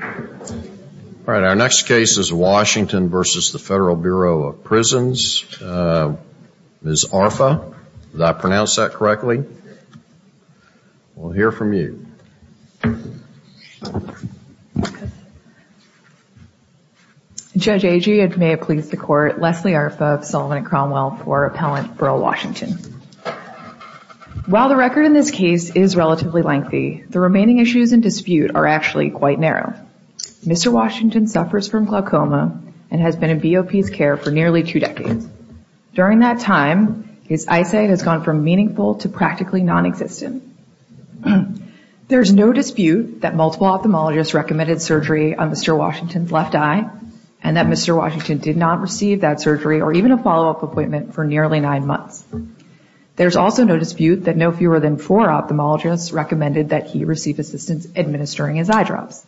All right, our next case is Washington v. Federal Bureau of Prisons. Ms. Arfa, did I pronounce that correctly? We'll hear from you. Judge Agee, it may have pleased the Court, Leslie Arfa of Sullivan and Cromwell for Appellant Berl Washington. While the record in this case is relatively lengthy, the remaining issues in dispute are actually quite narrow. Mr. Washington suffers from glaucoma and has been in BOP's care for nearly two decades. During that time, his eyesight has gone from meaningful to practically nonexistent. There is no dispute that multiple ophthalmologists recommended surgery on Mr. Washington's left eye and that Mr. Washington did not receive that surgery or even a follow-up appointment for nearly nine months. There is also no dispute that no fewer than four ophthalmologists recommended that he receive assistance administering his eye drops.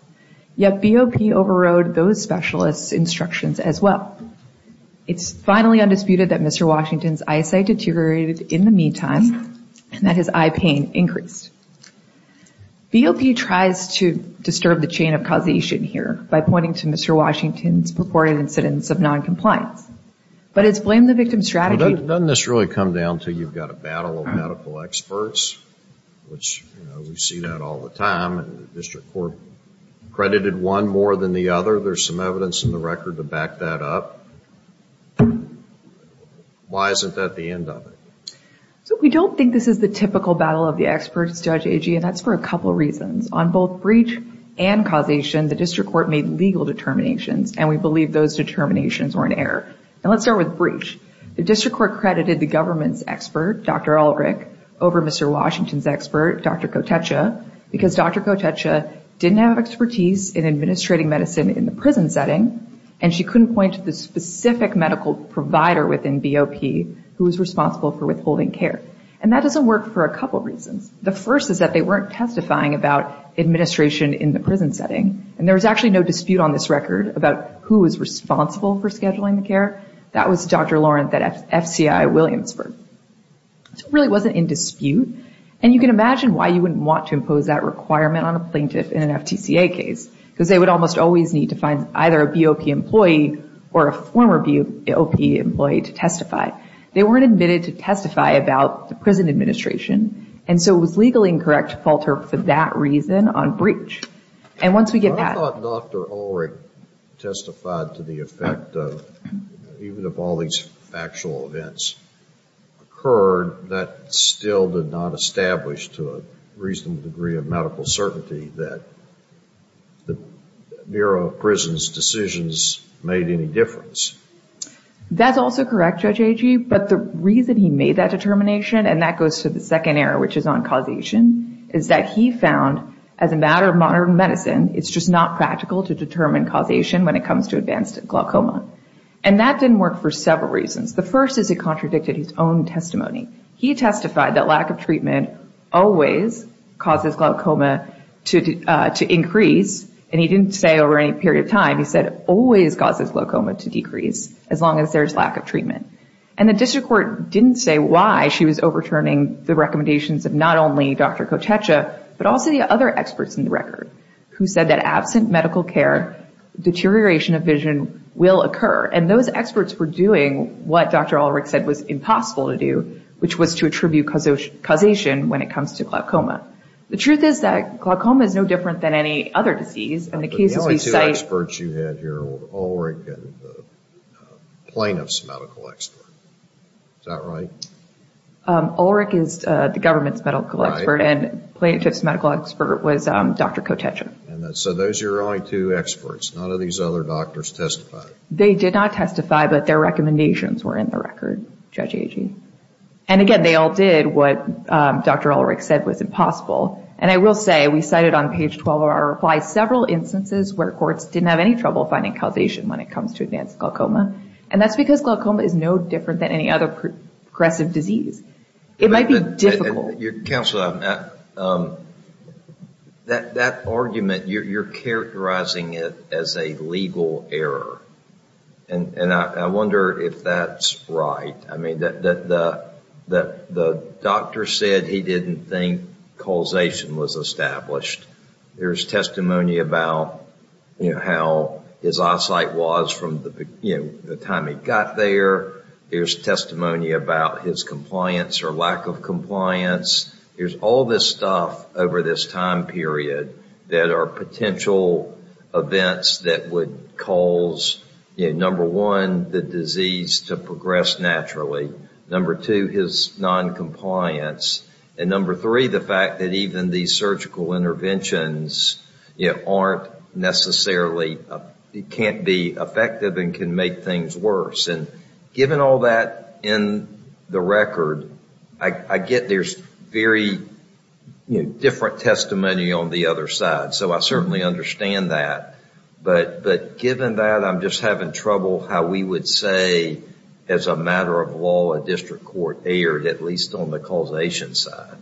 Yet BOP overrode those specialists' instructions as well. It's finally undisputed that Mr. Washington's eyesight deteriorated in the meantime and that his eye pain increased. BOP tries to disturb the chain of causation here by pointing to Mr. Washington's purported incidence of noncompliance. But it's blamed the victim's strategy. Doesn't this really come down to you've got a battle of medical experts, which we see that all the time, and the District Court credited one more than the other. There's some evidence in the record to back that up. Why isn't that the end of it? So we don't think this is the typical battle of the experts, Judge Agee, and that's for a couple of reasons. On both breach and causation, the District Court made legal determinations, and we believe those determinations were in error. And let's start with breach. The District Court credited the government's expert, Dr. Ulrich, over Mr. Washington's expert, Dr. Kotecha, because Dr. Kotecha didn't have expertise in administrating medicine in the prison setting, and she couldn't point to the specific medical provider within BOP who was responsible for withholding care. And that doesn't work for a couple of reasons. The first is that they weren't testifying about administration in the prison setting, and there was actually no dispute on this record about who was responsible for scheduling the care. That was Dr. Lawrence at FCI Williamsburg. So it really wasn't in dispute, and you can imagine why you wouldn't want to impose that requirement on a plaintiff in an FTCA case, because they would almost always need to find either a BOP employee or a former BOP employee to testify. They weren't admitted to testify about the prison administration, and so it was legally incorrect to falter for that reason on breach. I thought Dr. Ulrich testified to the effect of even if all these factual events occurred, that still did not establish to a reasonable degree of medical certainty that the Bureau of Prisons' decisions made any difference. That's also correct, Judge Agee, but the reason he made that determination, and that goes to the second error, which is on causation, is that he found as a matter of modern medicine, it's just not practical to determine causation when it comes to advanced glaucoma. And that didn't work for several reasons. The first is he contradicted his own testimony. He testified that lack of treatment always causes glaucoma to increase, and he didn't say over any period of time. He said it always causes glaucoma to decrease as long as there's lack of treatment. And the district court didn't say why she was overturning the recommendations of not only Dr. Kotecha, but also the other experts in the record who said that absent medical care, deterioration of vision will occur. And those experts were doing what Dr. Ulrich said was impossible to do, which was to attribute causation when it comes to glaucoma. The truth is that glaucoma is no different than any other disease. The only two experts you had here were Ulrich and the plaintiff's medical expert. Is that right? Ulrich is the government's medical expert, and the plaintiff's medical expert was Dr. Kotecha. So those are your only two experts. None of these other doctors testified. They did not testify, but their recommendations were in the record, Judge Agee. And again, they all did what Dr. Ulrich said was impossible. And I will say, we cited on page 12 of our reply several instances where courts didn't have any trouble finding causation when it comes to advanced glaucoma. And that's because glaucoma is no different than any other progressive disease. It might be difficult. Counsel, that argument, you're characterizing it as a legal error. And I wonder if that's right. I mean, the doctor said he didn't think causation was established. There's testimony about how his eyesight was from the time he got there. There's testimony about his compliance or lack of compliance. There's all this stuff over this time period that are potential events that would cause, number one, the disease to progress naturally. Number two, his noncompliance. And number three, the fact that even these surgical interventions aren't necessarily, can't be effective and can make things worse. And given all that in the record, I get there's very different testimony on the other side. So I certainly understand that. But given that, I'm just having trouble how we would say, as a matter of law, a district court erred, at least on the causation side.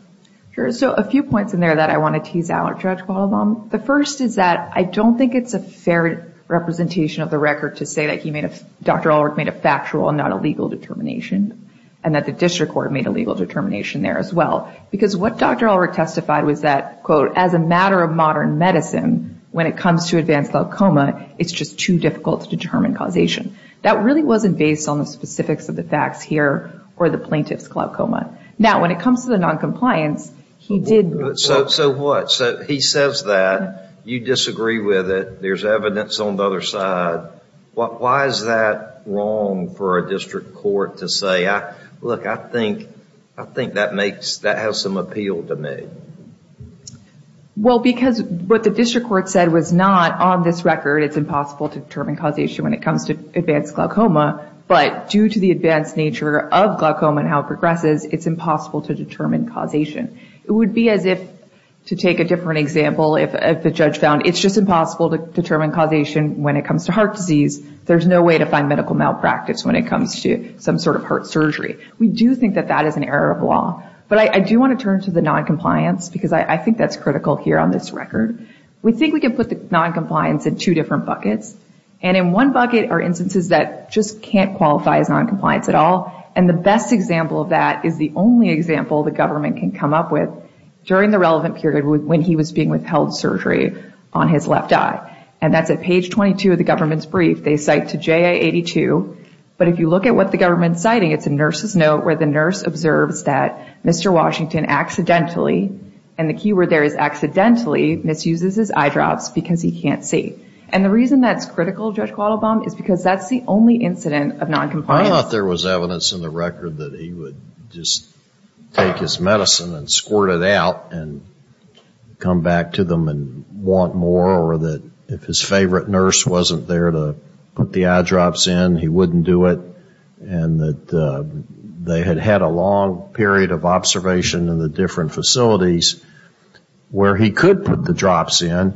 So a few points in there that I want to tease out, Judge Quattlebaum. The first is that I don't think it's a fair representation of the record to say that Dr. Ulrich made a factual and not a legal determination. And that the district court made a legal determination there as well. Because what Dr. Ulrich testified was that, quote, as a matter of modern medicine, when it comes to advanced glaucoma, it's just too difficult to determine causation. That really wasn't based on the specifics of the facts here or the plaintiff's glaucoma. Now, when it comes to the noncompliance, he did... So what? So he says that, you disagree with it, there's evidence on the other side. Why is that wrong for a district court to say, look, I think that has some appeal to me? Well, because what the district court said was not, on this record, it's impossible to determine causation when it comes to advanced glaucoma. But due to the advanced nature of glaucoma and how it progresses, it's impossible to determine causation. It would be as if, to take a different example, if the judge found it's just impossible to determine causation when it comes to heart disease. There's no way to find medical malpractice when it comes to some sort of heart surgery. We do think that that is an error of law. But I do want to turn to the noncompliance, because I think that's critical here on this record. We think we can put the noncompliance in two different buckets. And in one bucket are instances that just can't qualify as noncompliance at all. And the best example of that is the only example the government can come up with during the relevant period when he was being withheld surgery on his left eye. And that's at page 22 of the government's brief. They cite to JA82, but if you look at what the government's citing, it's a nurse's note where the nurse observes that Mr. Washington accidentally, and the keyword there is accidentally, misuses his eye drops because he can't see. And the reason that's critical, Judge Quattlebaum, is because that's the only incident of noncompliance. There's no evidence in the record that he would just take his medicine and squirt it out and come back to them and want more. Or that if his favorite nurse wasn't there to put the eye drops in, he wouldn't do it. And that they had had a long period of observation in the different facilities where he could put the drops in.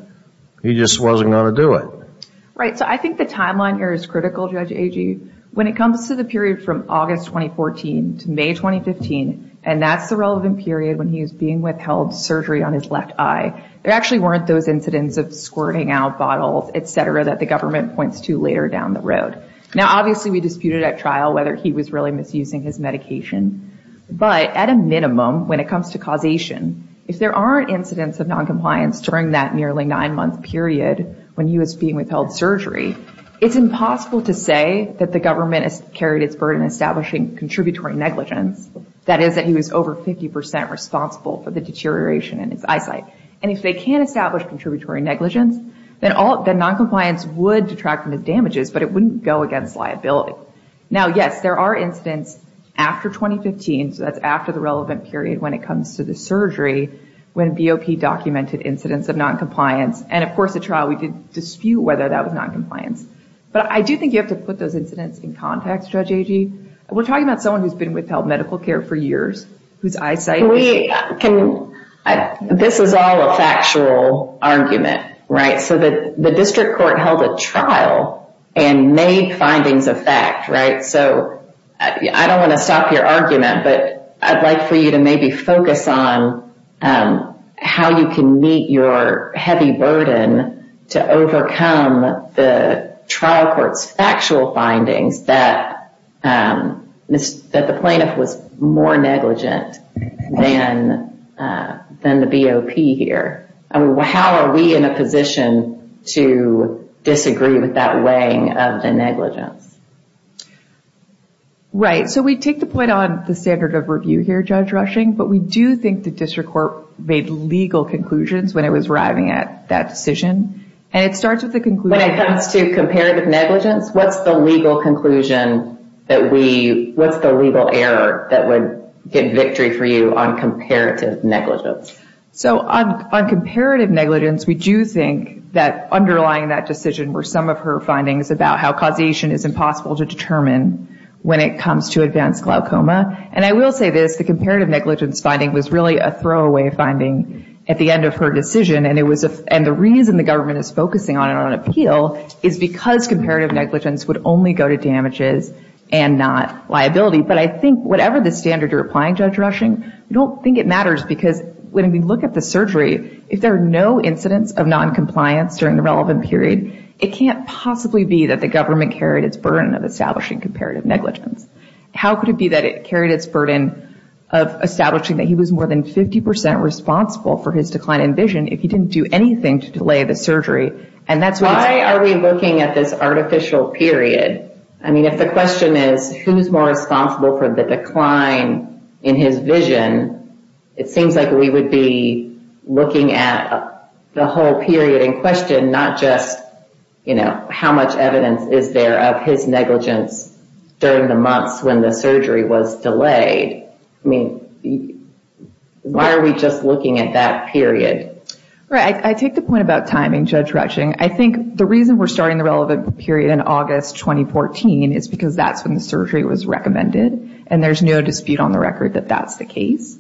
He just wasn't going to do it. Right. So I think the timeline here is critical, Judge Agee. When it comes to the period from August 2014 to May 2015, and that's the relevant period when he was being withheld surgery on his left eye, there actually weren't those incidents of squirting out bottles, et cetera, that the government points to later down the road. Now, obviously, we disputed at trial whether he was really misusing his medication. But at a minimum, when it comes to causation, if there aren't incidents of noncompliance during that nearly nine-month period when he was being withheld surgery, it's impossible to say that the government has carried its burden establishing contributory negligence. That is, that he was over 50 percent responsible for the deterioration in his eyesight. And if they can establish contributory negligence, then noncompliance would detract from the damages, but it wouldn't go against liability. Now, yes, there are incidents after 2015, so that's after the relevant period when it comes to the surgery, when BOP documented incidents of noncompliance. And of course, at trial, we did dispute whether that was noncompliance. But I do think you have to put those incidents in context, Judge Agee. We're talking about someone who's been withheld medical care for years, whose eyesight... This is all a factual argument, right? So the district court held a trial and made findings of fact, right? So I don't want to stop your argument, but I'd like for you to maybe focus on how you can meet your heavy burden to overcome the trial court's factual findings that the plaintiff was more negligent than the BOP here. How are we in a position to disagree with that weighing of the negligence? Right. So we take the point on the standard of review here, Judge Rushing, but we do think the district court made legal conclusions when it was arriving at that decision. When it comes to comparative negligence, what's the legal conclusion that we... What's the legal error that would get victory for you on comparative negligence? So on comparative negligence, we do think that underlying that decision were some of her findings about how causation is impossible to determine when it comes to advanced glaucoma. And I will say this, the comparative negligence finding was really a throwaway finding at the end of her decision. And the reason the government is focusing on it on appeal is because comparative negligence would only go to damages and not liability. But I think whatever the standard you're applying, Judge Rushing, I don't think it matters because when we look at the surgery, if there are no incidents of noncompliance during the relevant period, it can't possibly be that the government carried its burden of establishing comparative negligence. How could it be that it carried its burden of establishing that he was more than 50% responsible for his decline in vision if he didn't do anything to delay the surgery? Why are we looking at this artificial period? I mean, if the question is who's more responsible for the decline in his vision, it seems like we would be looking at the whole period in question, not just how much evidence is there of his negligence during the months when the surgery was delayed. I mean, why are we just looking at that period? I take the point about timing, Judge Rushing. I think the reason we're starting the relevant period in August 2014 is because that's when the surgery was recommended, and there's no dispute on the record that that's the case.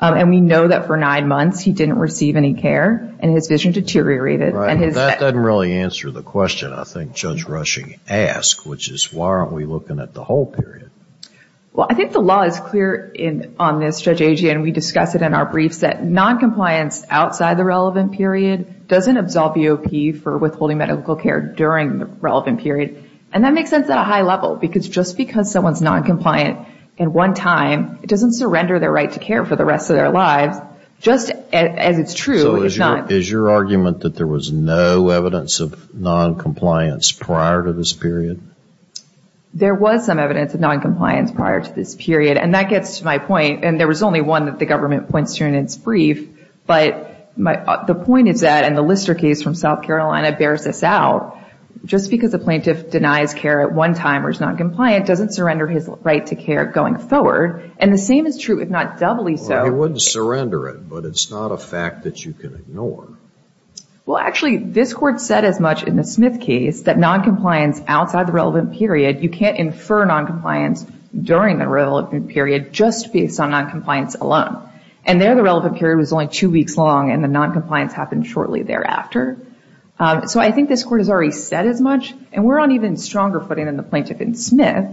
And we know that for nine months he didn't receive any care, and his vision deteriorated. That doesn't really answer the question I think Judge Rushing asked, which is why aren't we looking at the whole period? Well, I think the law is clear on this, Judge Agee, and we discuss it in our briefs, that noncompliance outside the relevant period doesn't absolve EOP for withholding medical care during the relevant period. And that makes sense at a high level, because just because someone's noncompliant at one time, it doesn't surrender their right to care for the rest of their lives, just as it's true. So is your argument that there was no evidence of noncompliance prior to this period? There was some evidence of noncompliance prior to this period, and that gets to my point. And there was only one that the government points to in its brief. But the point is that, and the Lister case from South Carolina bears this out, just because a plaintiff denies care at one time or is noncompliant doesn't surrender his right to care going forward. And the same is true if not doubly so. Well, he wouldn't surrender it, but it's not a fact that you can ignore. Well, actually, this Court said as much in the Smith case that noncompliance outside the relevant period, you can't infer noncompliance during the relevant period just based on noncompliance alone. And there the relevant period was only two weeks long, and the noncompliance happened shortly thereafter. So I think this Court has already said as much, and we're on even stronger footing than the plaintiff in Smith,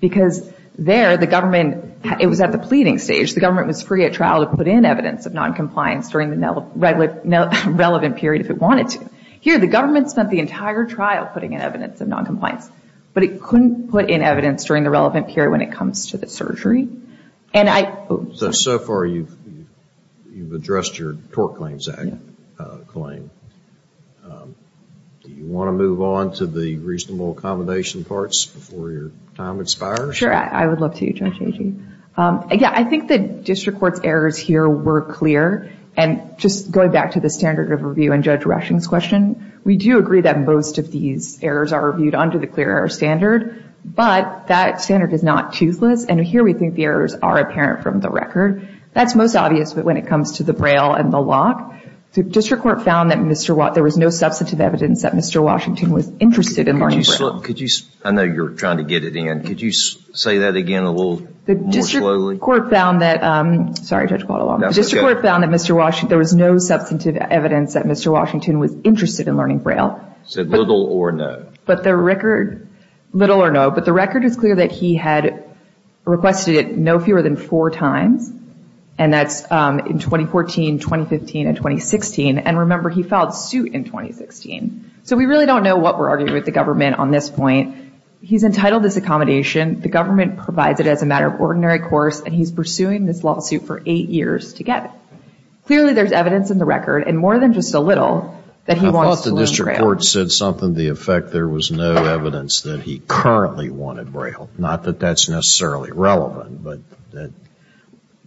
because there the government, it was at the pleading stage. The government was free at trial to put in evidence of noncompliance during the relevant period if it wanted to. Here, the government spent the entire trial putting in evidence of noncompliance, but it couldn't put in evidence during the relevant period when it comes to the surgery. So far, you've addressed your Tort Claims Act claim. Do you want to move on to the reasonable accommodation parts before your time expires? Sure. I would love to, Judge Agee. Yeah, I think the district court's errors here were clear, and just going back to the standard of review in Judge Rushing's question, we do agree that most of these errors are reviewed under the clear error standard, but that standard is not toothless. And here we think the errors are apparent from the record. That's most obvious when it comes to the Braille and the lock. The district court found that there was no substantive evidence that Mr. Washington was interested in learning Braille. I know you're trying to get it in. Could you say that again a little more slowly? The district court found that there was no substantive evidence that Mr. Washington was interested in learning Braille. So little or no. But the record is clear that he had requested it no fewer than four times, and that's in 2014, 2015, and 2016. And remember, he filed suit in 2016. So we really don't know what we're arguing with the government on this point. He's entitled this accommodation. The government provides it as a matter of ordinary course, and he's pursuing this lawsuit for eight years to get it. Clearly there's evidence in the record, and more than just a little, that he wants to learn Braille. I thought the district court said something to the effect that there was no evidence that he currently wanted Braille. Not that that's necessarily relevant.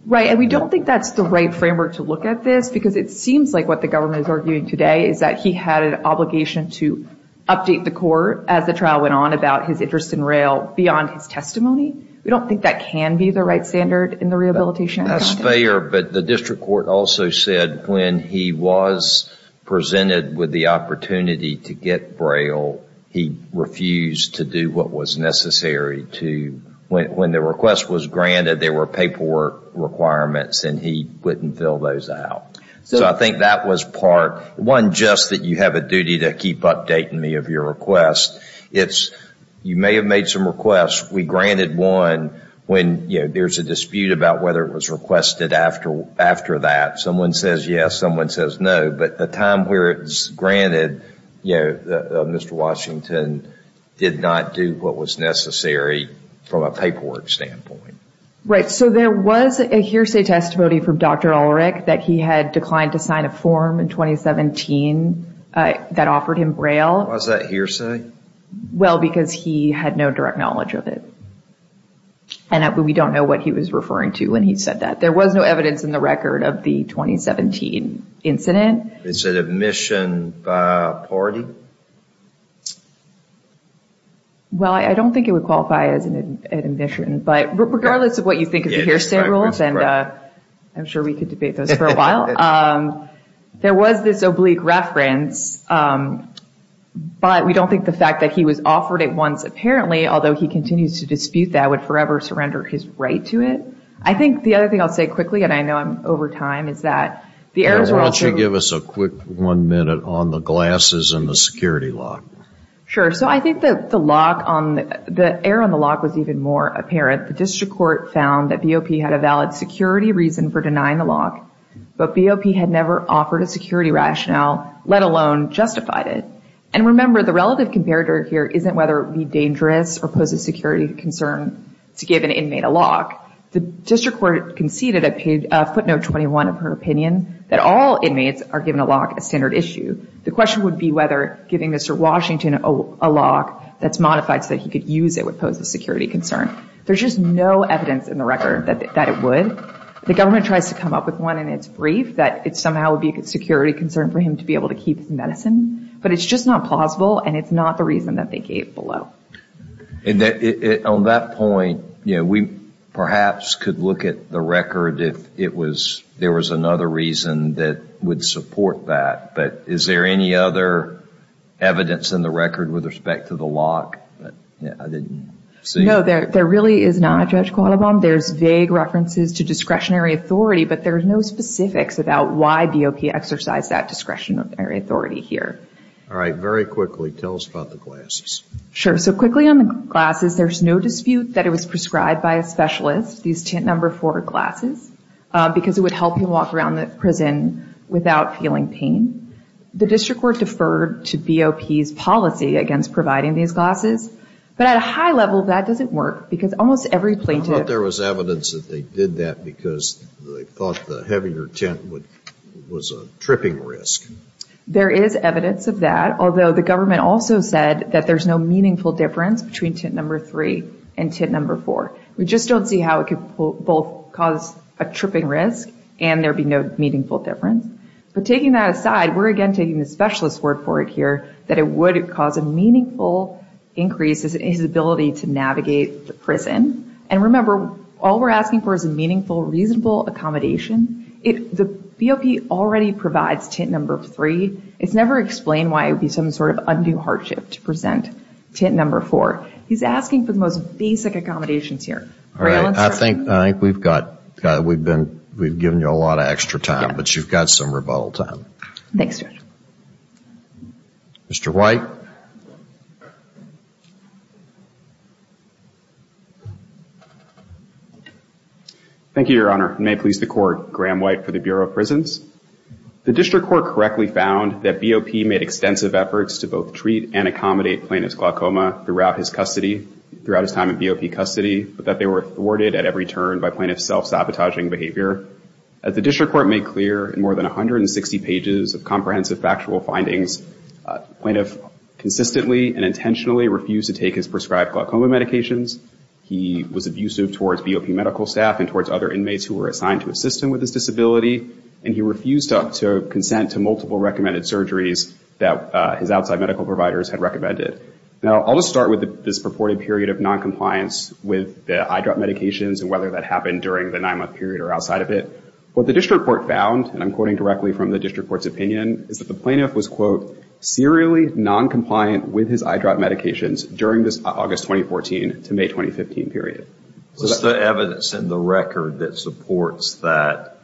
Right, and we don't think that's the right framework to look at this, because it seems like what the government is arguing today is that he had an obligation to update the court as the trial went on about his interest in Braille beyond his testimony. We don't think that can be the right standard in the rehabilitation. That's fair, but the district court also said when he was presented with the opportunity to get Braille, he refused to do what was necessary. When the request was granted, there were paperwork requirements, and he wouldn't fill those out. So I think that was part, one, just that you have a duty to keep updating me of your request. You may have made some requests, we granted one, when there's a dispute about whether it was requested after that. Someone says yes, someone says no, but the time where it's granted, Mr. Washington did not do what was necessary from a paperwork standpoint. Right, so there was a hearsay testimony from Dr. Ulrich that he had declined to sign a form in 2017 that offered him Braille. Why is that hearsay? Well, because he had no direct knowledge of it, and we don't know what he was referring to when he said that. There was no evidence in the record of the 2017 incident. Is it admission by a party? Well, I don't think it would qualify as an admission, but regardless of what you think of the hearsay rules, and I'm sure we could debate those for a while, there was this oblique reference, but we don't think the fact that he was offered it once apparently, although he continues to dispute that, would forever surrender his right to it. Why don't you give us a quick one minute on the glasses and the security lock? Sure, so I think the lock, the error on the lock was even more apparent. The district court found that BOP had a valid security reason for denying the lock, but BOP had never offered a security rationale, let alone justified it. And remember, the relative comparator here isn't whether it would be dangerous or pose a security concern to give an inmate a lock. The district court conceded at footnote 21 of her opinion that all inmates are given a lock a standard issue. The question would be whether giving Mr. Washington a lock that's modified so that he could use it would pose a security concern. There's just no evidence in the record that it would. The government tries to come up with one in its brief that it somehow would be a security concern for him to be able to keep his medicine, but it's just not plausible and it's not the reason that they gave below. On that point, we perhaps could look at the record if there was another reason that would support that, but is there any other evidence in the record with respect to the lock that I didn't see? No, there really is not, Judge Quattlebaum. There's vague references to discretionary authority, but there's no specifics about why BOP exercised that discretionary authority here. All right, very quickly, tell us about the glasses. Sure, so quickly on the glasses, there's no dispute that it was prescribed by a specialist, these tint number four glasses, because it would help him walk around the prison without feeling pain. The district court deferred to BOP's policy against providing these glasses, but at a high level, that doesn't work because almost every plaintiff I thought there was evidence that they did that because they thought the heavier tint was a tripping risk. There is evidence of that, although the government also said that there's no meaningful difference between tint number three and tint number four. We just don't see how it could both cause a tripping risk and there'd be no meaningful difference. But taking that aside, we're again taking the specialist's word for it here that it would cause a meaningful increase in his ability to navigate the prison. And remember, all we're asking for is a meaningful, reasonable accommodation. The BOP already provides tint number three. It's never explained why it would be some sort of undue hardship to present tint number four. He's asking for the most basic accommodations here. I think we've given you a lot of extra time, but you've got some rebuttal time. Thanks, Judge. Mr. White. Thank you, Your Honor. May it please the Court, Graham White for the Bureau of Prisons. The district court correctly found that BOP made extensive efforts to both treat and accommodate plaintiff's glaucoma throughout his time in BOP custody, but that they were thwarted at every turn by plaintiff's self-sabotaging behavior. As the district court made clear in more than 160 pages of comprehensive factual findings, plaintiff consistently and intentionally refused to take his prescribed glaucoma medications. He was abusive towards BOP medical staff and towards other inmates who were assigned to assist him with his disability, and he refused to consent to multiple recommended surgeries that his outside medical providers had recommended. Now, I'll just start with this purported period of noncompliance with the eyedrop medications and whether that happened during the nine-month period or outside of it. What the district court found, and I'm quoting directly from the district court's opinion, is that the plaintiff was, quote, serially noncompliant with his eyedrop medications during this August 2014 to May 2015 period. What's the evidence in the record that supports that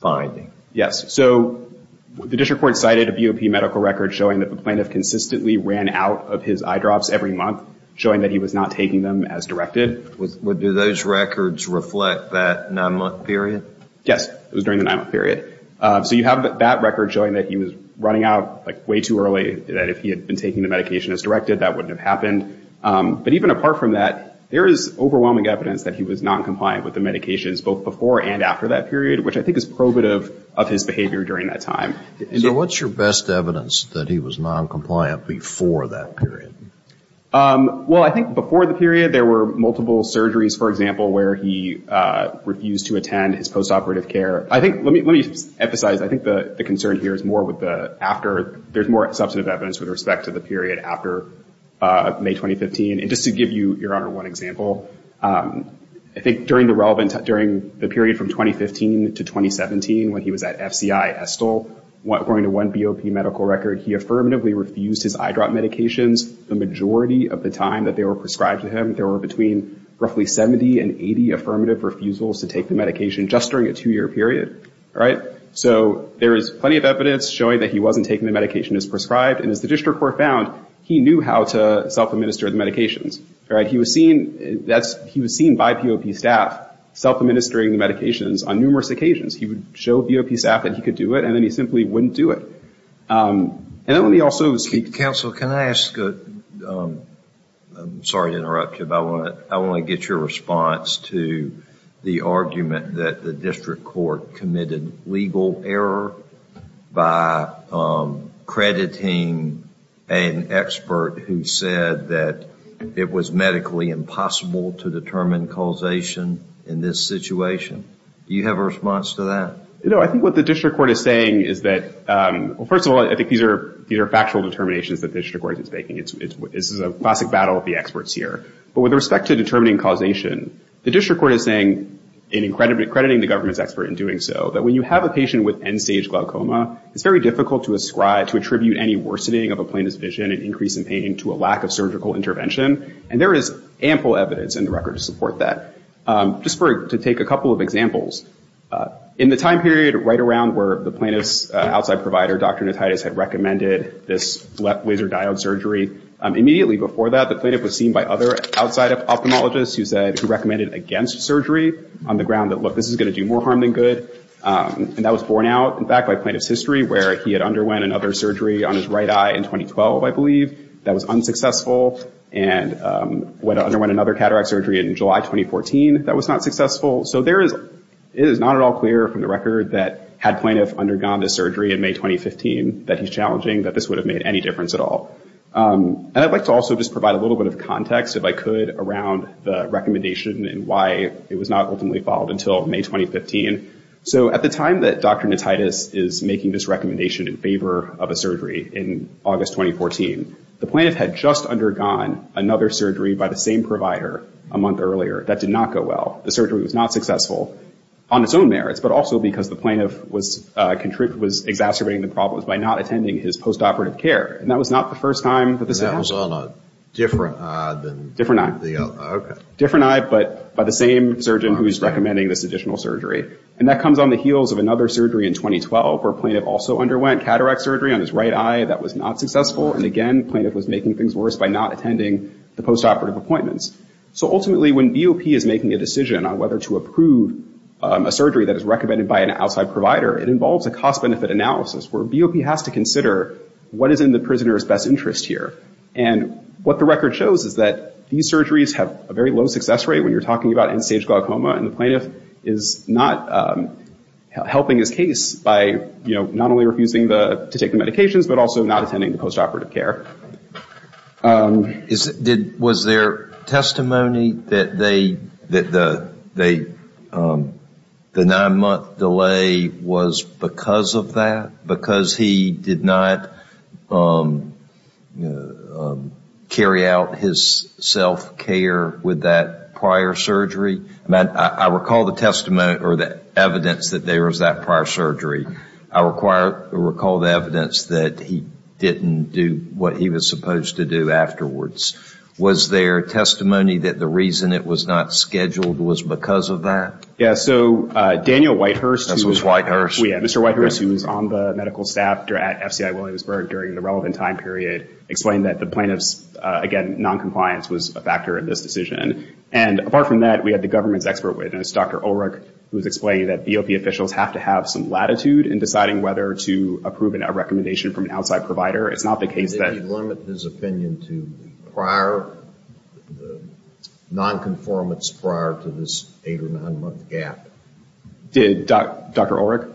finding? Yes. So the district court cited a BOP medical record showing that the plaintiff consistently ran out of his eyedrops every month, showing that he was not taking them as directed. Do those records reflect that nine-month period? Yes. It was during the nine-month period. So you have that record showing that he was running out, like, way too early, that if he had been taking the medication as directed, that wouldn't have happened. But even apart from that, there is overwhelming evidence that he was noncompliant with the medications both before and after that period, which I think is probative of his behavior during that time. So what's your best evidence that he was noncompliant before that period? Well, I think before the period, there were multiple surgeries, for example, where he refused to attend his postoperative care. Let me emphasize, I think the concern here is more with the after. There's more substantive evidence with respect to the period after May 2015. And just to give you, Your Honor, one example, I think during the period from 2015 to 2017 when he was at FCI Estill, according to one BOP medical record, he affirmatively refused his eye drop medications the majority of the time that they were prescribed to him. There were between roughly 70 and 80 affirmative refusals to take the medication just during a two-year period. So there is plenty of evidence showing that he wasn't taking the medication as prescribed. And as the district court found, he knew how to self-administer the medications. He was seen by BOP staff self-administering the medications on numerous occasions. He would show BOP staff that he could do it, and then he simply wouldn't do it. And let me also speak to... Counsel, can I ask a... I'm sorry to interrupt you, but I want to get your response to the argument that the district court committed legal error by crediting an expert who said that it was medically impossible to determine causation in this situation. Do you have a response to that? You know, I think what the district court is saying is that... Well, first of all, I think these are factual determinations that the district court is making. This is a classic battle of the experts here. But with respect to determining causation, the district court is saying, in crediting the government's expert in doing so, that when you have a patient with end-stage glaucoma, it's very difficult to ascribe, to attribute any worsening of a plaintiff's vision and increase in pain to a lack of surgical intervention. And there is ample evidence in the record to support that. Just to take a couple of examples. In the time period right around where the plaintiff's outside provider, Dr. Nataitis, had recommended this laser diode surgery, immediately before that, the plaintiff was seen by other outside ophthalmologists who said... who recommended against surgery on the ground that, look, this is going to do more harm than good. And that was borne out, in fact, by plaintiff's history, where he had underwent another surgery on his right eye in 2012, I believe. That was unsuccessful. And underwent another cataract surgery in July 2014. That was not successful. So there is... it is not at all clear from the record that, had plaintiff undergone this surgery in May 2015, that he's challenging that this would have made any difference at all. And I'd like to also just provide a little bit of context, if I could, around the recommendation and why it was not ultimately followed until May 2015. So at the time that Dr. Nataitis is making this recommendation in favor of a surgery in August 2014, the plaintiff had just undergone another surgery by the same provider a month earlier. That did not go well. The surgery was not successful on its own merits, but also because the plaintiff was exacerbating the problems by not attending his postoperative care. And that was not the first time that this happened. And that was on a different eye than... Different eye. Okay. Different eye, but by the same surgeon who is recommending this additional surgery. And that comes on the heels of another surgery in 2012, where a plaintiff also underwent cataract surgery on his right eye. That was not successful. And again, the plaintiff was making things worse by not attending the postoperative appointments. So ultimately, when BOP is making a decision on whether to approve a surgery that is recommended by an outside provider, it involves a cost-benefit analysis where BOP has to consider what is in the prisoner's best interest here. And what the record shows is that these surgeries have a very low success rate when you're talking about end-stage glaucoma, and the plaintiff is not helping his case by, you know, not only refusing to take the medications, but also not attending the postoperative care. Was there testimony that the nine-month delay was because of that, because he did not carry out his self-care with that prior surgery? I recall the testimony or the evidence that there was that prior surgery. I recall the evidence that he didn't do what he was supposed to do afterwards. Was there testimony that the reason it was not scheduled was because of that? Yes. So Daniel Whitehurst... This was Whitehurst. Yes, Mr. Whitehurst, who was on the medical staff at FCI Williamsburg during the relevant time period, explained that the plaintiff's, again, noncompliance was a factor in this decision. And apart from that, we had the government's expert witness, Dr. Ulrich, who was explaining that BOP officials have to have some latitude in deciding whether to approve a recommendation from an outside provider. It's not the case that... Did he limit his opinion to prior, nonconformance prior to this eight- or nine-month gap? Did Dr. Ulrich?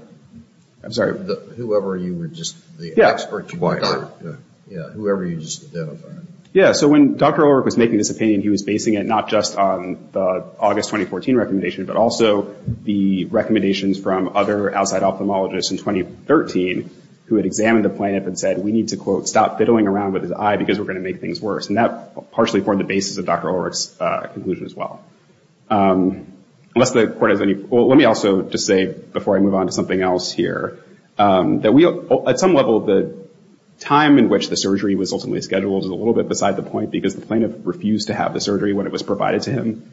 I'm sorry. Whoever you were just... Yeah. The expert to prior. Yeah, whoever you just identified. Yeah, so when Dr. Ulrich was making this opinion, he was basing it not just on the August 2014 recommendation, but also the recommendations from other outside ophthalmologists in 2013 who had examined the plaintiff and said, we need to, quote, stop fiddling around with his eye because we're going to make things worse. And that partially formed the basis of Dr. Ulrich's conclusion as well. Unless the court has any... Well, let me also just say, before I move on to something else here, that at some level, the time in which the surgery was ultimately scheduled is a little bit beside the point because the plaintiff refused to have the surgery when it was provided to him.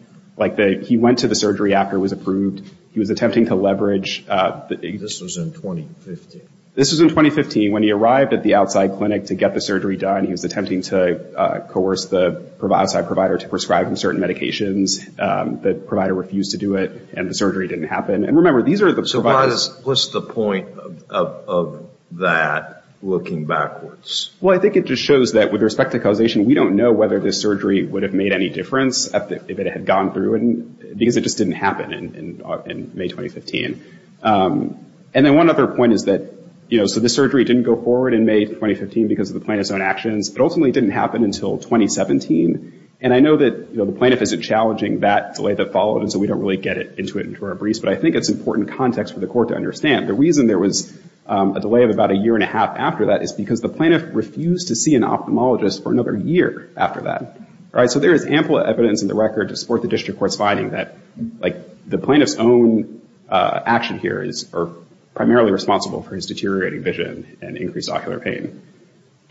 He went to the surgery after it was approved. He was attempting to leverage... This was in 2015. This was in 2015. When he arrived at the outside clinic to get the surgery done, he was attempting to coerce the outside provider to prescribe him certain medications. The provider refused to do it, and the surgery didn't happen. And remember, these are the providers... So what's the point of that looking backwards? Well, I think it just shows that with respect to causation, we don't know whether this surgery would have made any difference if it had gone through because it just didn't happen in May 2015. And then one other point is that, you know, so this surgery didn't go forward in May 2015 because of the plaintiff's own actions, but ultimately it didn't happen until 2017. And I know that the plaintiff isn't challenging that delay that followed, and so we don't really get into it into our briefs, but I think it's important context for the court to understand. The reason there was a delay of about a year and a half after that is because the plaintiff refused to see an ophthalmologist for another year after that. So there is ample evidence in the record to support the district court's finding that the plaintiff's own actions here are primarily responsible for his deteriorating vision and increased ocular pain.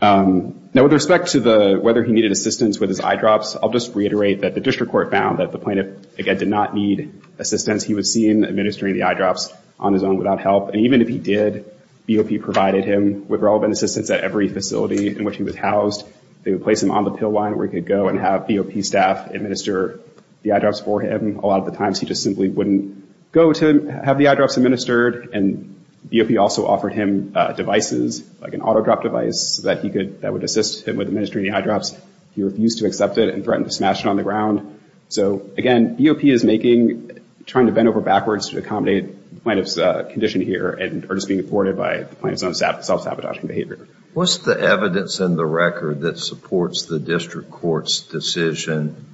Now, with respect to whether he needed assistance with his eyedrops, I'll just reiterate that the district court found that the plaintiff, again, did not need assistance. He was seen administering the eyedrops on his own without help, and even if he did, BOP provided him with relevant assistance at every facility in which he was housed. They would place him on the pill line where he could go and have BOP staff administer the eyedrops for him. A lot of the times he just simply wouldn't go to have the eyedrops administered, and BOP also offered him devices, like an auto-drop device, that would assist him with administering the eyedrops. He refused to accept it and threatened to smash it on the ground. So, again, BOP is making, trying to bend over backwards to accommodate the plaintiff's condition here and are just being afforded by the plaintiff's own self-sabotaging behavior. What's the evidence in the record that supports the district court's decision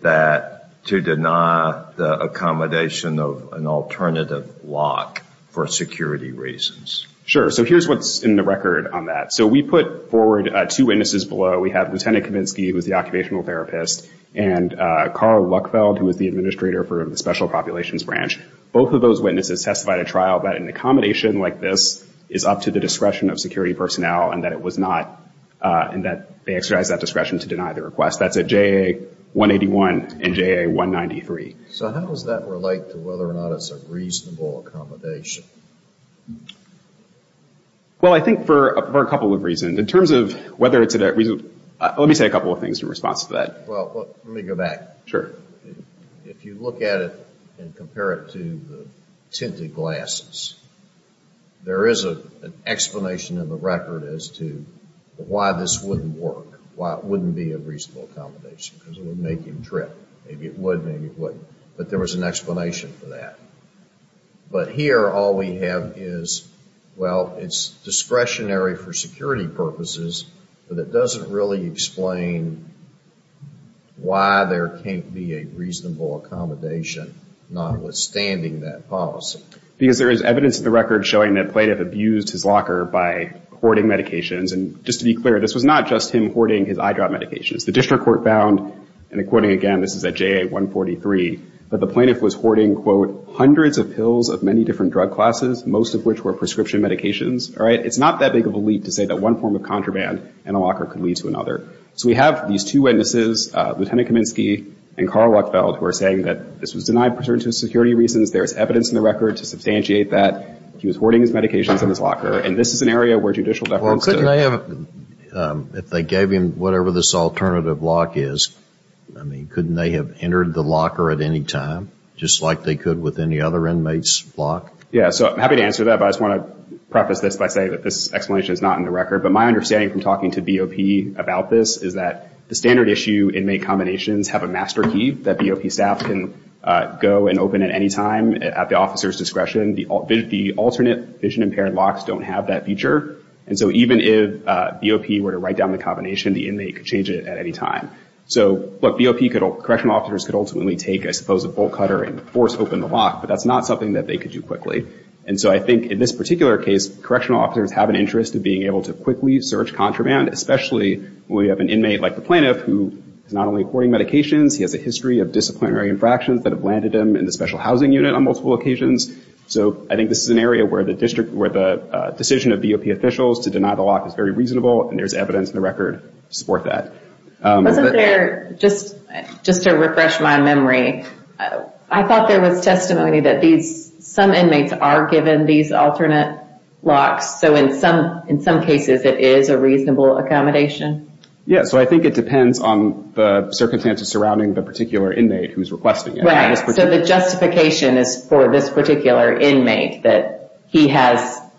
that to deny the accommodation of an alternative lock for security reasons? Sure. So here's what's in the record on that. So we put forward two witnesses below. We have Lieutenant Kavinsky, who is the occupational therapist, and Carl Luckfeld, who is the administrator for the Special Populations Branch. Both of those witnesses testified at trial that an accommodation like this is up to the discretion of security personnel and that it was not, and that they exercise that discretion to deny the request. That's at JA 181 and JA 193. So how does that relate to whether or not it's a reasonable accommodation? Well, I think for a couple of reasons. In terms of whether it's a reasonable accommodation, let me say a couple of things in response to that. Well, let me go back. Sure. If you look at it and compare it to the tinted glasses, there is an explanation in the record as to why this wouldn't work, why it wouldn't be a reasonable accommodation, because it would make him trip. Maybe it would, maybe it wouldn't. But there was an explanation for that. But here all we have is, well, it's discretionary for security purposes, but it doesn't really explain why there can't be a reasonable accommodation, notwithstanding that policy. Because there is evidence in the record showing that a plaintiff abused his locker by hoarding medications. And just to be clear, this was not just him hoarding his eye drop medications. The district court found, and quoting again, this is at JA 143, that the plaintiff was hoarding, quote, hundreds of pills of many different drug classes, most of which were prescription medications. All right? It's not that big of a leap to say that one form of contraband in a locker could lead to another. So we have these two witnesses, Lieutenant Kaminsky and Carl Lachfeld, who are saying that this was denied for security reasons. There is evidence in the record to substantiate that he was hoarding his medications in his locker. And this is an area where judicial deference to it. Well, couldn't they have, if they gave him whatever this alternative lock is, I mean, couldn't they have entered the locker at any time, just like they could with any other inmate's lock? Yeah, so I'm happy to answer that, but I just want to preface this by saying that this explanation is not in the record. But my understanding from talking to BOP about this is that the standard issue inmate combinations have a master key that BOP staff can go and open at any time at the officer's discretion. The alternate vision-impaired locks don't have that feature. And so even if BOP were to write down the combination, the inmate could change it at any time. So, look, BOP correctional officers could ultimately take, I suppose, a bolt cutter and force open the lock, but that's not something that they could do quickly. And so I think in this particular case, correctional officers have an interest in being able to quickly search contraband, especially when we have an inmate like the plaintiff who is not only hoarding medications, he has a history of disciplinary infractions that have landed him in the special housing unit on multiple occasions. So I think this is an area where the decision of BOP officials to deny the lock is very reasonable, and there's evidence in the record to support that. Wasn't there, just to refresh my memory, I thought there was testimony that some inmates are given these alternate locks, so in some cases it is a reasonable accommodation? Yeah, so I think it depends on the circumstances surrounding the particular inmate who's requesting it. Right, so the justification is for this particular inmate that he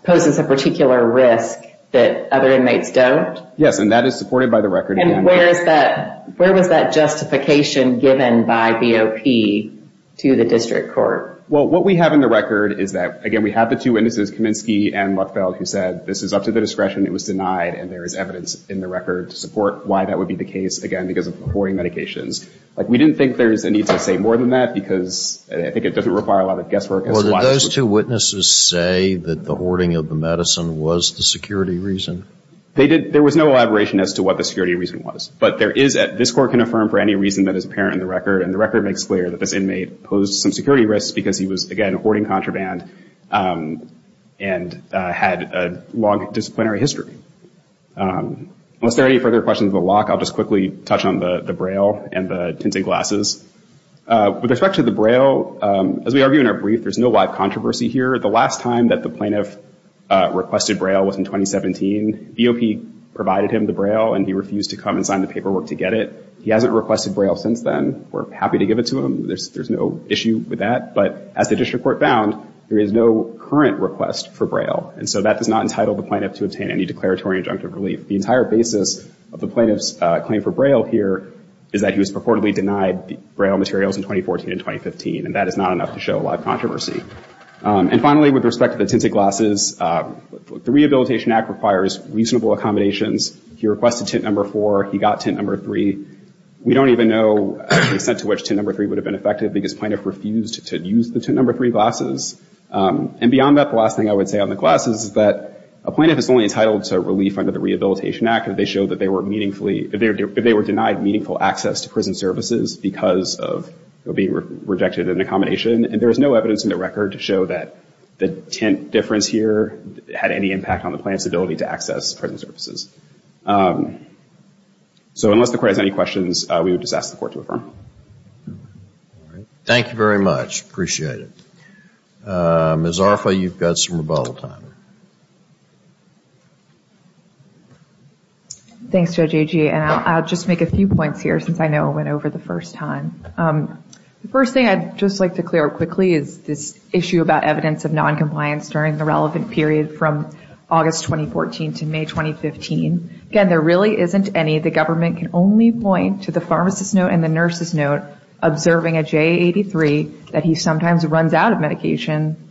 poses a particular risk that other inmates don't? Yes, and that is supported by the record. And where was that justification given by BOP to the district court? Well, what we have in the record is that, again, we have the two witnesses, Kaminsky and Lutfeld, who said this is up to the discretion, it was denied, and there is evidence in the record to support why that would be the case, again, because of hoarding medications. We didn't think there's a need to say more than that, because I think it doesn't require a lot of guesswork. Well, did those two witnesses say that the hoarding of the medicine was the security reason? There was no elaboration as to what the security reason was, but this court can affirm for any reason that is apparent in the record, and the record makes clear that this inmate posed some security risks because he was, again, hoarding contraband and had a long disciplinary history. Unless there are any further questions of the lock, I'll just quickly touch on the Braille and the tinted glasses. With respect to the Braille, as we argue in our brief, there's no live controversy here. The last time that the plaintiff requested Braille was in 2017. DOP provided him the Braille, and he refused to come and sign the paperwork to get it. He hasn't requested Braille since then. We're happy to give it to him. There's no issue with that. But as the district court found, there is no current request for Braille, and so that does not entitle the plaintiff to obtain any declaratory injunctive relief. The entire basis of the plaintiff's claim for Braille here is that he was purportedly denied Braille materials in 2014 and 2015, and that is not enough to show a lot of controversy. And finally, with respect to the tinted glasses, the Rehabilitation Act requires reasonable accommodations. He requested tint number four. He got tint number three. We don't even know the extent to which tint number three would have been effective because plaintiff refused to use the tint number three glasses. And beyond that, the last thing I would say on the glasses is that a plaintiff is only entitled to relief under the Rehabilitation Act if they were denied meaningful access to prison services because of being rejected an accommodation, and there is no evidence in the record to show that the tint difference here had any impact on the plaintiff's ability to access prison services. So unless the Court has any questions, we would just ask the Court to affirm. Thank you very much. Appreciate it. Ms. Arfa, you've got some rebuttal time. Thanks, Judge Agee, and I'll just make a few points here since I know it went over the first time. The first thing I'd just like to clear up quickly is this issue about evidence of noncompliance during the relevant period from August 2014 to May 2015. Again, there really isn't any. The government can only point to the pharmacist's note and the nurse's note observing a JA-83 that he sometimes runs out of medication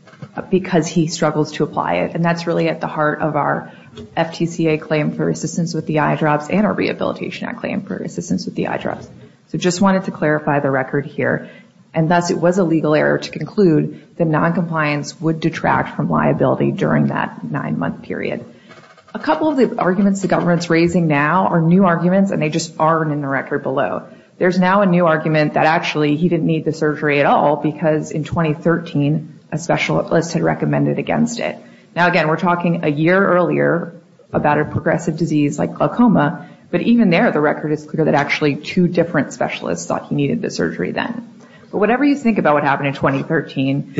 because he struggles to apply it, and that's really at the heart of our FTCA claim for assistance with the eye drops and our Rehabilitation Act claim for assistance with the eye drops. So I just wanted to clarify the record here, and thus it was a legal error to conclude that noncompliance would detract from liability during that nine-month period. A couple of the arguments the government's raising now are new arguments, and they just aren't in the record below. There's now a new argument that actually he didn't need the surgery at all because in 2013 a specialist had recommended against it. Now, again, we're talking a year earlier about a progressive disease like glaucoma, but even there the record is clear that actually two different specialists thought he needed the surgery then. But whatever you think about what happened in 2013.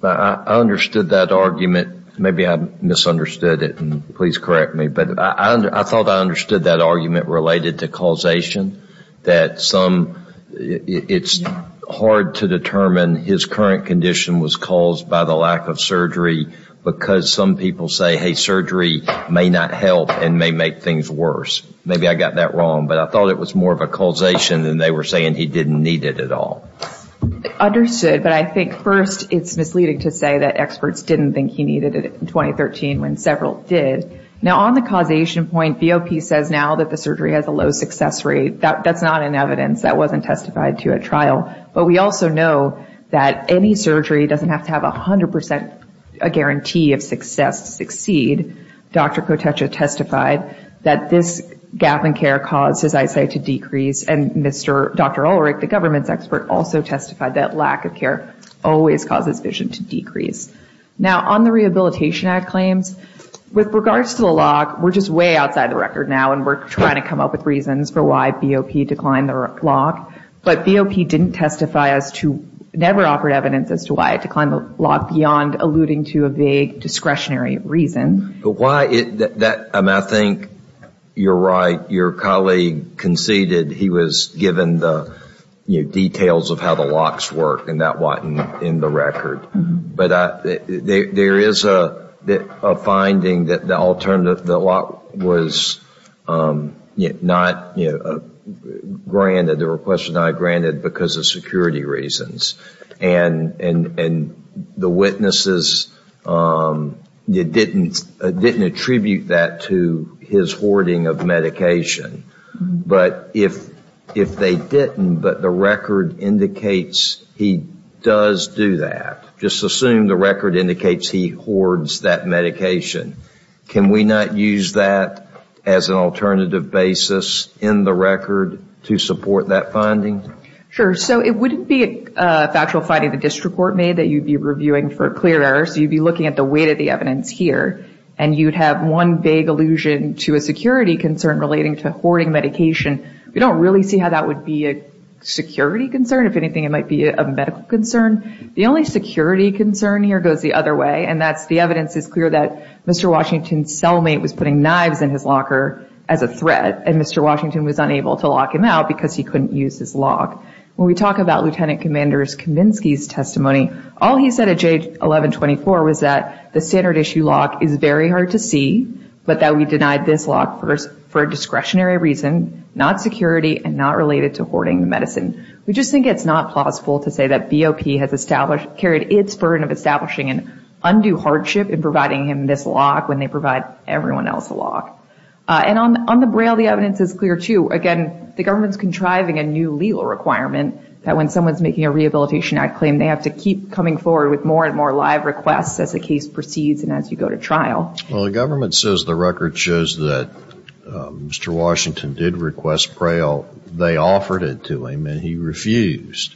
I understood that argument. Maybe I misunderstood it, and please correct me. But I thought I understood that argument related to causation, that it's hard to determine his current condition was caused by the lack of surgery because some people say, hey, surgery may not help and may make things worse. Maybe I got that wrong, but I thought it was more of a causation than they were saying he didn't need it at all. Understood, but I think first it's misleading to say that experts didn't think he needed it in 2013 when several did. Now, on the causation point, BOP says now that the surgery has a low success rate. That's not in evidence. That wasn't testified to at trial. But we also know that any surgery doesn't have to have 100% guarantee of success to succeed. Dr. Kotecha testified that this gap in care caused his eyesight to decrease, and Dr. Ulrich, the government's expert, also testified that lack of care always causes vision to decrease. Now, on the Rehabilitation Act claims, with regards to the lock, we're just way outside the record now, and we're trying to come up with reasons for why BOP declined the lock. But BOP didn't testify as to, never offered evidence as to why it declined the lock beyond alluding to a vague discretionary reason. I think you're right. Your colleague conceded he was given the details of how the locks work, and that wasn't in the record. But there is a finding that the lock was not granted. The request was not granted because of security reasons. And the witnesses didn't attribute that to his hoarding of medication. But if they didn't, but the record indicates he does do that, just assume the record indicates he hoards that medication, can we not use that as an alternative basis in the record to support that finding? Sure. So it wouldn't be a factual finding the district court made that you'd be reviewing for clear errors. You'd be looking at the weight of the evidence here, and you'd have one vague allusion to a security concern relating to hoarding medication. We don't really see how that would be a security concern. If anything, it might be a medical concern. The only security concern here goes the other way, and that's the evidence is clear that Mr. Washington's cellmate was putting knives in his locker as a threat, and Mr. Washington was unable to lock him out because he couldn't use his lock. When we talk about Lieutenant Commander Kaminsky's testimony, all he said at J1124 was that the standard issue lock is very hard to see, but that we denied this lock for a discretionary reason, not security and not related to hoarding the medicine. We just think it's not plausible to say that BOP has carried its burden of establishing an undue hardship in providing him this lock when they provide everyone else a lock. And on the Braille, the evidence is clear too. Again, the government's contriving a new legal requirement that when someone's making a rehabilitation act claim, they have to keep coming forward with more and more live requests as the case proceeds and as you go to trial. Well, the government says the record shows that Mr. Washington did request Braille. They offered it to him, and he refused.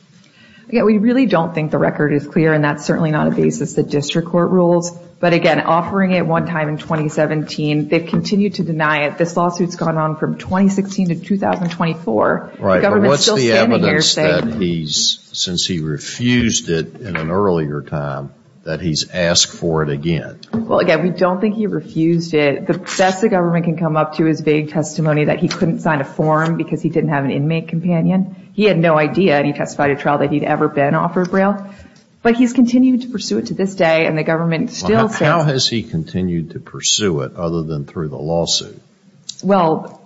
Again, we really don't think the record is clear, and that's certainly not a basis that district court rules. But again, offering it one time in 2017, they've continued to deny it. This lawsuit's gone on from 2016 to 2024. Right, but what's the evidence that he's, since he refused it in an earlier time, that he's asked for it again? Well, again, we don't think he refused it. The best the government can come up to is vague testimony that he couldn't sign a form because he didn't have an inmate companion. He had no idea, and he testified at trial, that he'd ever been offered Braille. But he's continued to pursue it to this day, and the government still says. How has he continued to pursue it other than through the lawsuit? Well,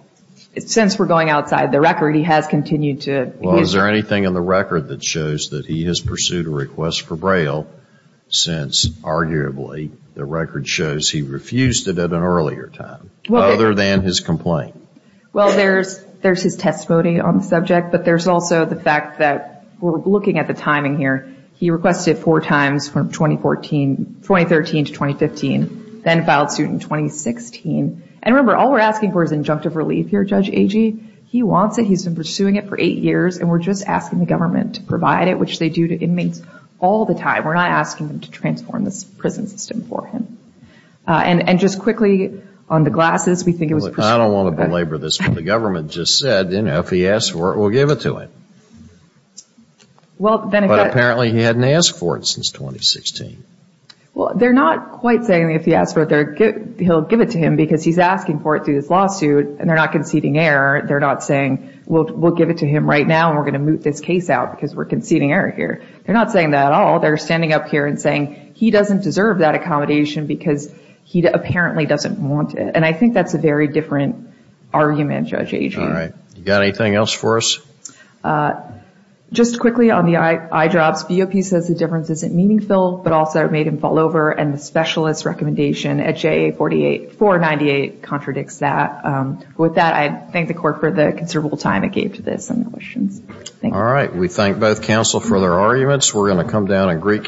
since we're going outside the record, he has continued to. Well, is there anything in the record that shows that he has pursued a request for Braille since arguably the record shows he refused it at an earlier time other than his complaint? Well, there's his testimony on the subject, but there's also the fact that we're looking at the timing here. He requested four times from 2013 to 2015, then filed suit in 2016. And remember, all we're asking for is injunctive relief here, Judge Agee. He wants it. He's been pursuing it for eight years, and we're just asking the government to provide it, which they do to inmates all the time. We're not asking them to transform this prison system for him. And just quickly, on the glasses, we think it was pursued. I don't want to belabor this, but the government just said, you know, if he asks for it, we'll give it to him. But apparently he hadn't asked for it since 2016. Well, they're not quite saying if he asks for it, he'll give it to him, because he's asking for it through this lawsuit, and they're not conceding error. They're not saying we'll give it to him right now, and we're going to moot this case out because we're conceding error here. They're not saying that at all. They're standing up here and saying he doesn't deserve that accommodation because he apparently doesn't want it. And I think that's a very different argument, Judge Agee. All right. You got anything else for us? Just quickly on the eyedrops, VOP says the difference isn't meaningful, but also it made him fall over, and the specialist's recommendation at JA 498 contradicts that. With that, I thank the court for the considerable time it gave to this and the questions. All right. We thank both counsel for their arguments. We're going to come down and great counsel.